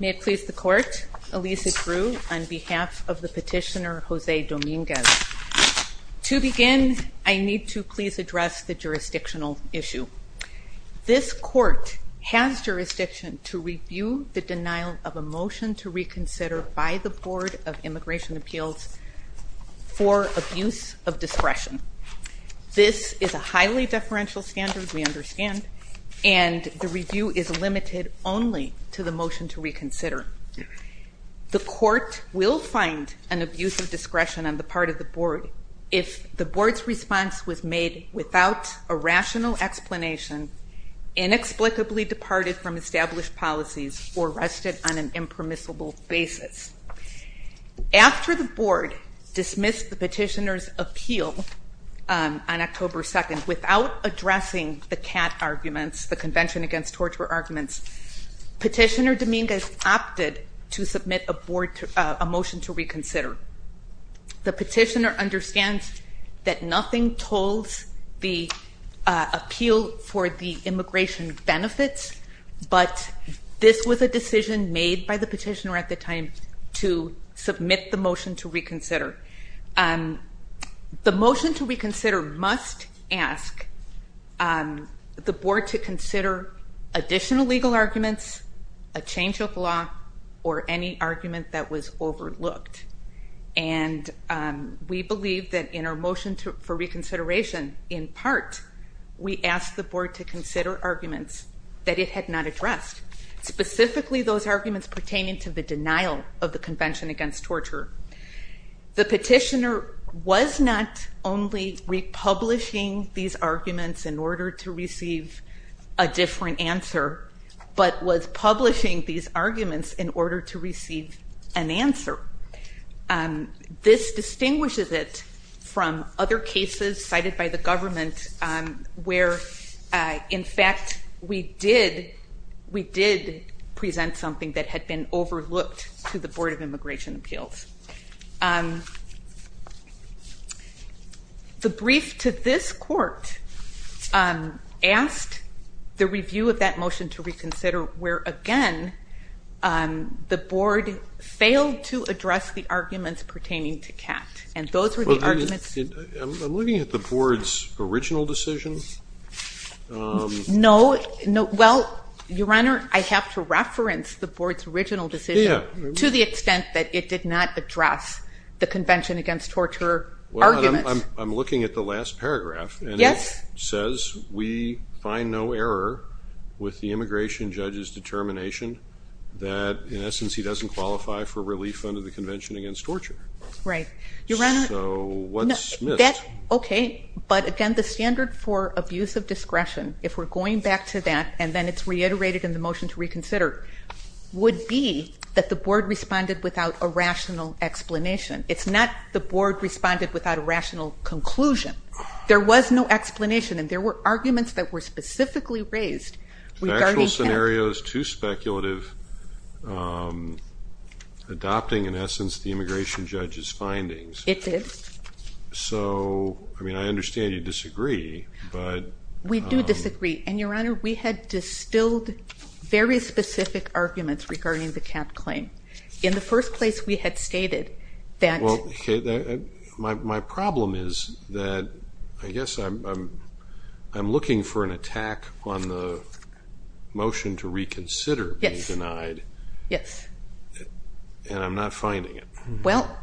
May it please the court, Elisa Drew on behalf of the petitioner Jose Dominguez. To begin, I need to please address the jurisdictional issue. This court has jurisdiction to review the denial of a motion to reconsider by the Board of Immigration Appeals for abuse of discretion. This is a highly deferential standard, we understand, and the review is limited only to the motion to reconsider. The court will find an abuse of discretion on the part of the board if the board's response was made without a rational explanation, inexplicably departed from established policies, or rested on an impermissible basis. After the board dismissed the petitioner's appeal on October 2nd, without addressing the CAT arguments, the Convention Against Torture Arguments, Petitioner Dominguez opted to submit a motion to reconsider. The petitioner understands that nothing tolls the appeal for the immigration benefits, but this was a decision made by the petitioner at the time to submit the motion to reconsider. The motion to reconsider must ask the board to consider additional legal arguments, a change of law, or any argument that was overlooked. And we believe that in our motion for reconsideration, in part, we asked the board to consider arguments that it had not addressed, specifically those arguments pertaining to the denial of the Convention Against Torture. The petitioner was not only republishing these arguments in order to receive a different answer, but was publishing these arguments in order to receive an answer. This distinguishes it from other cases cited by the government where, in fact, we did present something that had been overlooked to the Board of Immigration Appeals. The brief to this court asked the review of that motion to reconsider where, again, the board failed to address the arguments pertaining to CAT. And those were the arguments... I'm looking at the board's No, no. Well, Your Honor, I have to reference the board's original decision to the extent that it did not address the Convention Against Torture arguments. I'm looking at the last paragraph. Yes. It says we find no error with the immigration judge's determination that, in essence, he doesn't qualify for relief under the Convention Against Torture. Right. Your Honor... So what's missed? Okay, but again, the standard for abuse of discretion, if we're going back to that and then it's reiterated in the motion to reconsider, would be that the board responded without a rational explanation. It's not the board responded without a rational conclusion. There was no explanation and there were arguments that were specifically raised regarding... The actual scenario is too speculative, adopting, in essence, the immigration judge's findings. It did. So I understand you disagree, but... We do disagree. And Your Honor, we had distilled very specific arguments regarding the CAT claim. In the first place, we had stated that... Well, my problem is that I guess I'm looking for an attack on the motion to reconsider being denied. Yes. And I'm not finding it. Well,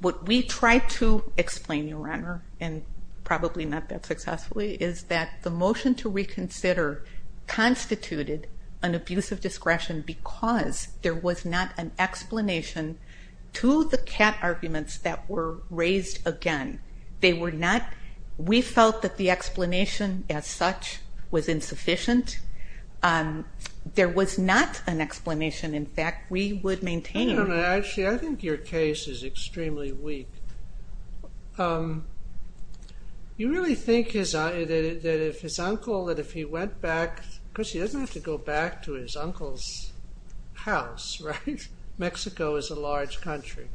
what we tried to explain, Your Honor, and probably not that successfully, is that the motion to reconsider constituted an abuse of discretion because there was not an explanation to the CAT arguments that were raised again. They were not... We felt that the explanation as such was insufficient. There was not an explanation. In fact, we would maintain... Actually, I think your case is extremely weak. You really think that if his uncle, that if he went back... Because he doesn't have to go back to his uncle's house, right? Mexico is a large country.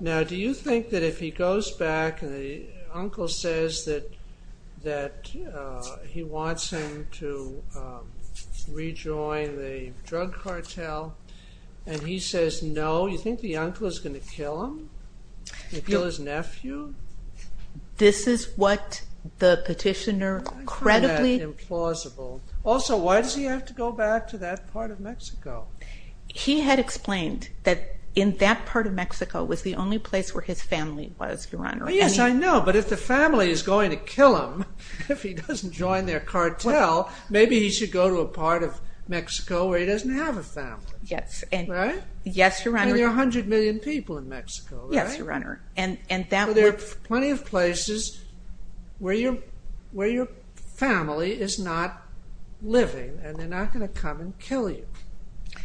Now, do you think that if he goes back and the uncle says that he wants him to know, you think the uncle is going to kill him? Kill his nephew? This is what the petitioner credibly... I find that implausible. Also, why does he have to go back to that part of Mexico? He had explained that in that part of Mexico was the only place where his family was, Your Honor. Yes, I know. But if the family is going to kill him, if he doesn't join their cartel, maybe he should go to a part of Mexico where he doesn't have a family. Yes. Yes, Your Honor. And there are 100 million people in Mexico, right? Yes, Your Honor. And that... There are plenty of places where your family is not living and they're not going to come and kill you,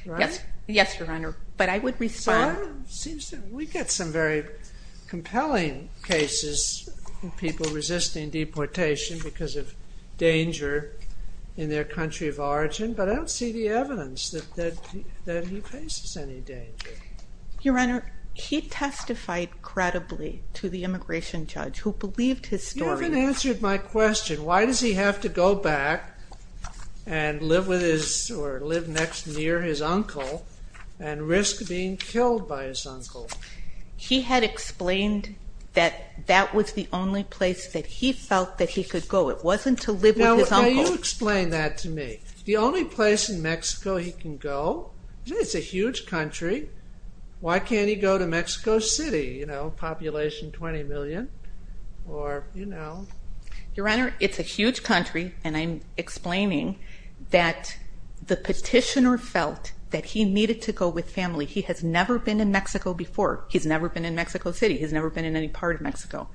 right? Yes, Your Honor. But I would respond... We get some very compelling cases of people resisting deportation because of danger in their country of origin, but I don't see the evidence that he faces any danger. Your Honor, he testified credibly to the immigration judge who believed his story. You haven't answered my question. Why does he have to go back and live with his... or live next... near his uncle and risk being killed by his uncle? He had explained that that was the only place that he felt that he could go. It wasn't to live with his uncle. Now, you explain that to me. The only place in Mexico he can go, it's a huge country. Why can't he go to Mexico City, you know, population 20 million or, you know? Your Honor, it's a huge country. And I'm explaining that the petitioner felt that he needed to go with family. He has never been in Mexico before. He's never been in Mexico City. He's never been in any part of Mexico.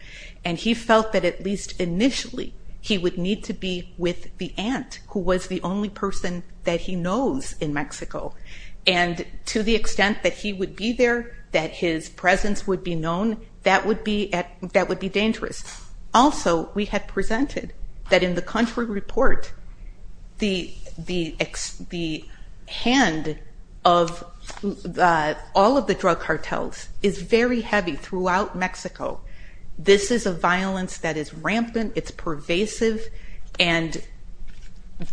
And he felt that at least initially, he would need to be with the aunt, who was the only person that he knows in Mexico. And to the extent that he would be there, that his presence would be known, that would be dangerous. Also, we had presented that in the country report, the hand of all of the drug cartels is very heavy throughout Mexico. This is a violence that is rampant, it's pervasive, and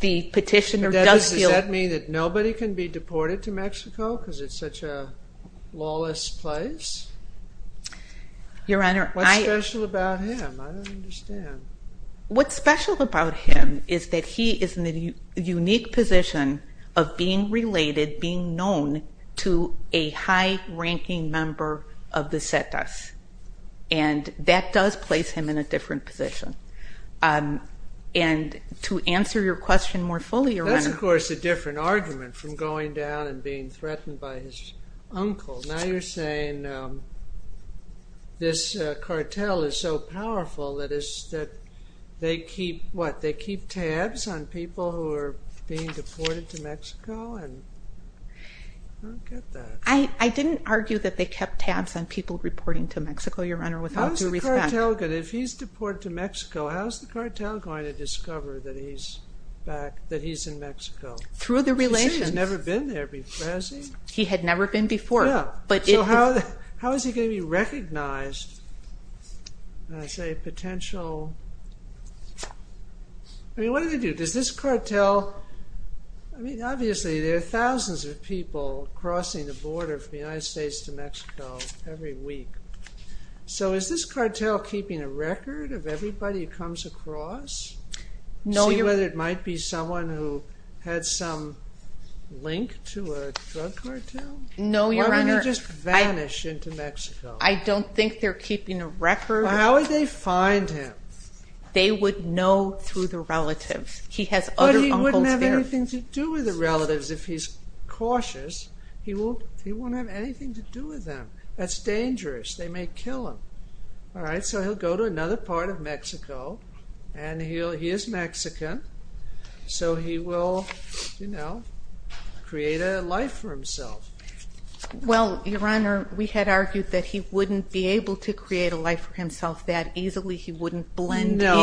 the petitioner does feel... Does that mean that nobody can be deported to Mexico because it's such a lawless place? Your Honor, I... What's special about him? I don't understand. What's special about him is that he is in a unique position of being related, being known, to a high-ranking member of the Cetas. And that does place him in a different position. And to answer your question more fully, Your Honor... That's, of course, a different argument from going down and being threatened by his uncle. Now you're saying this cartel is so powerful that they keep, what, they keep tabs on people who are being deported to Mexico? I don't get that. I didn't argue that they kept tabs on people reporting to Mexico, Your Honor, without due respect. How is the cartel going to... If he's deported to Mexico, how is the cartel going to discover that he's back, that he's in Mexico? Through the relations. He's never been there before, has he? He had never been before. So how is he going to be recognized as a potential... I mean, what do they do? Does this cartel... I mean, obviously, there are thousands of people crossing the border from the United States to Mexico every week. So is this cartel keeping a record of everybody who comes across? See whether it might be someone who had some link to a drug cartel? No, Your Honor. Why would he just vanish into Mexico? I don't think they're keeping a record. How would they find him? They would know through the relatives. He has other uncles there. But he wouldn't have anything to do with the relatives if he's cautious. He won't have anything to do with them. That's dangerous. They may kill him. All right, so he'll go to another part of Mexico, and he is Mexican. So he will, you know, create a life for himself. Well, Your Honor, we had argued that he wouldn't be able to create a life for himself that easily. He wouldn't blend in that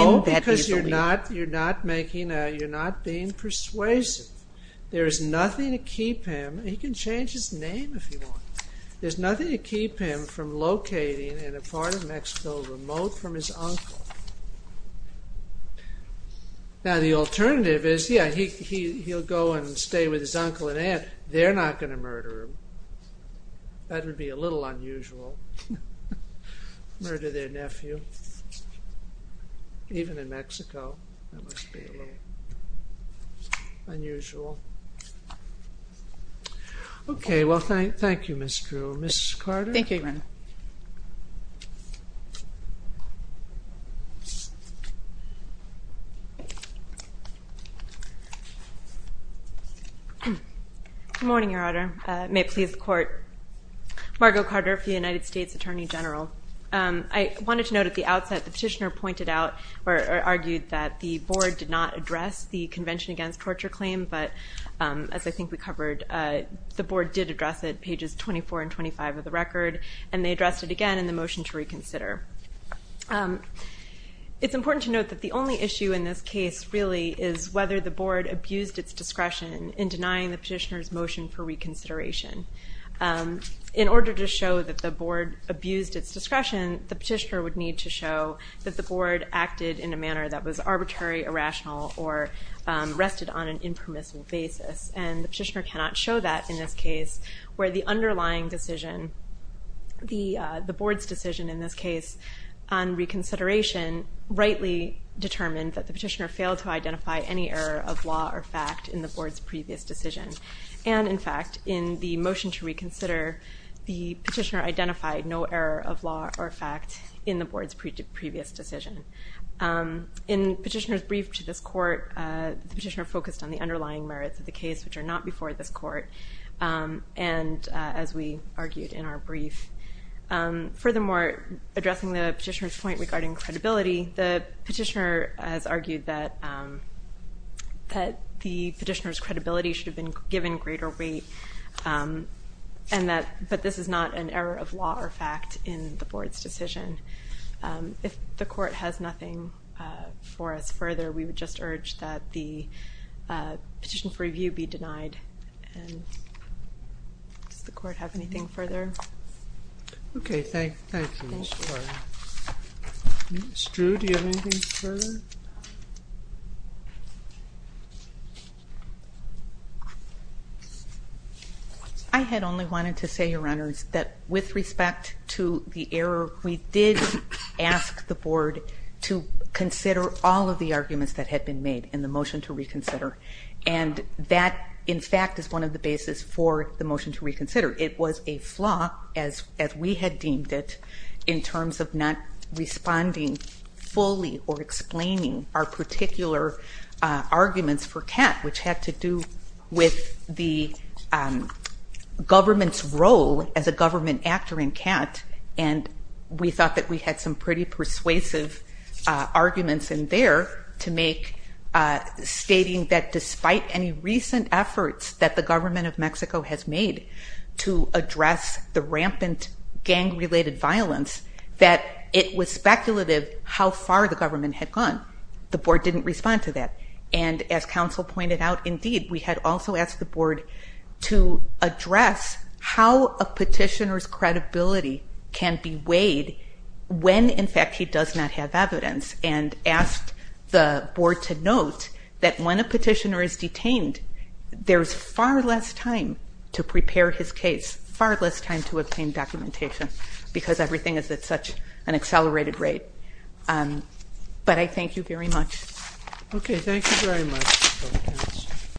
easily. No, because you're not making a... You're not being persuasive. There is nothing to keep him... He can change his name if he wants. There's nothing to keep him from locating in a part of Mexico remote from his uncle. Now, the alternative is, yeah, he'll go and stay with his uncle and aunt. They're not going to murder him. That would be a little unusual. Murder their nephew. Even in Mexico, that must be unusual. Okay, well, thank you, Ms. Drew. Ms. Carter? Thank you, Your Honor. Good morning, Your Honor. May it please the Court. Margot Carter for the United States Attorney General. I wanted to note at the outset, the petitioner pointed out or argued that the board did not address the Convention Against Torture claim, but as I think we covered, the board did address it, pages 24 and 25 of the record, and they addressed it again in the motion to reconsider. It's important to note that the only issue in this case really is whether the board abused its discretion in denying the petitioner's motion for reconsideration. In order to show that the board abused its discretion, the petitioner would need to show that the board acted in a manner that was arbitrary, irrational, or rested on an impermissible basis, and the petitioner cannot show that in this case, where the underlying decision, the board's decision in this case on reconsideration, rightly determined that the petitioner failed to identify any error of law or fact in the board's previous decision. And in fact, in the motion to reconsider, the petitioner identified no error of law or fact in the board's previous decision. In the petitioner's brief to this Court, the petitioner focused on the underlying merits of the case, which are not before this Court, and as we argued in our brief. Furthermore, addressing the petitioner's point regarding credibility, the petitioner has argued that the petitioner's credibility should have been given greater weight, but this is not an error of law or fact in the board's decision. If the Court has nothing for us further, we would just urge that the petition for review be denied, and does the Court have anything further? Okay, thank you, Ms. Warren. Ms. Drew, do you have anything further? I had only wanted to say, Your Honors, that with respect to the error, we did ask the board to consider all of the arguments that had been made in the motion to reconsider, and that, in fact, is one of the basis for the motion to reconsider. It was a flaw, as we had deemed it, in terms of not responding fully or explaining our particular arguments for Kat, which had to do with the government's role as a government actor in Kat, and we thought that we had some pretty persuasive arguments in there to make, stating that despite any recent efforts that the government of Mexico has made to address the rampant gang-related violence, that it was speculative how far the government had gone. The board didn't respond to that, and as counsel pointed out, indeed, we had also asked the board to address how a petitioner's credibility can be weighed when, in fact, he does not have evidence, and asked the board to note that when a petitioner is detained, there's far less time to prepare his case, far less time to obtain documentation, because everything is at such an accelerated rate. But I thank you very much. Okay. Thank you very much.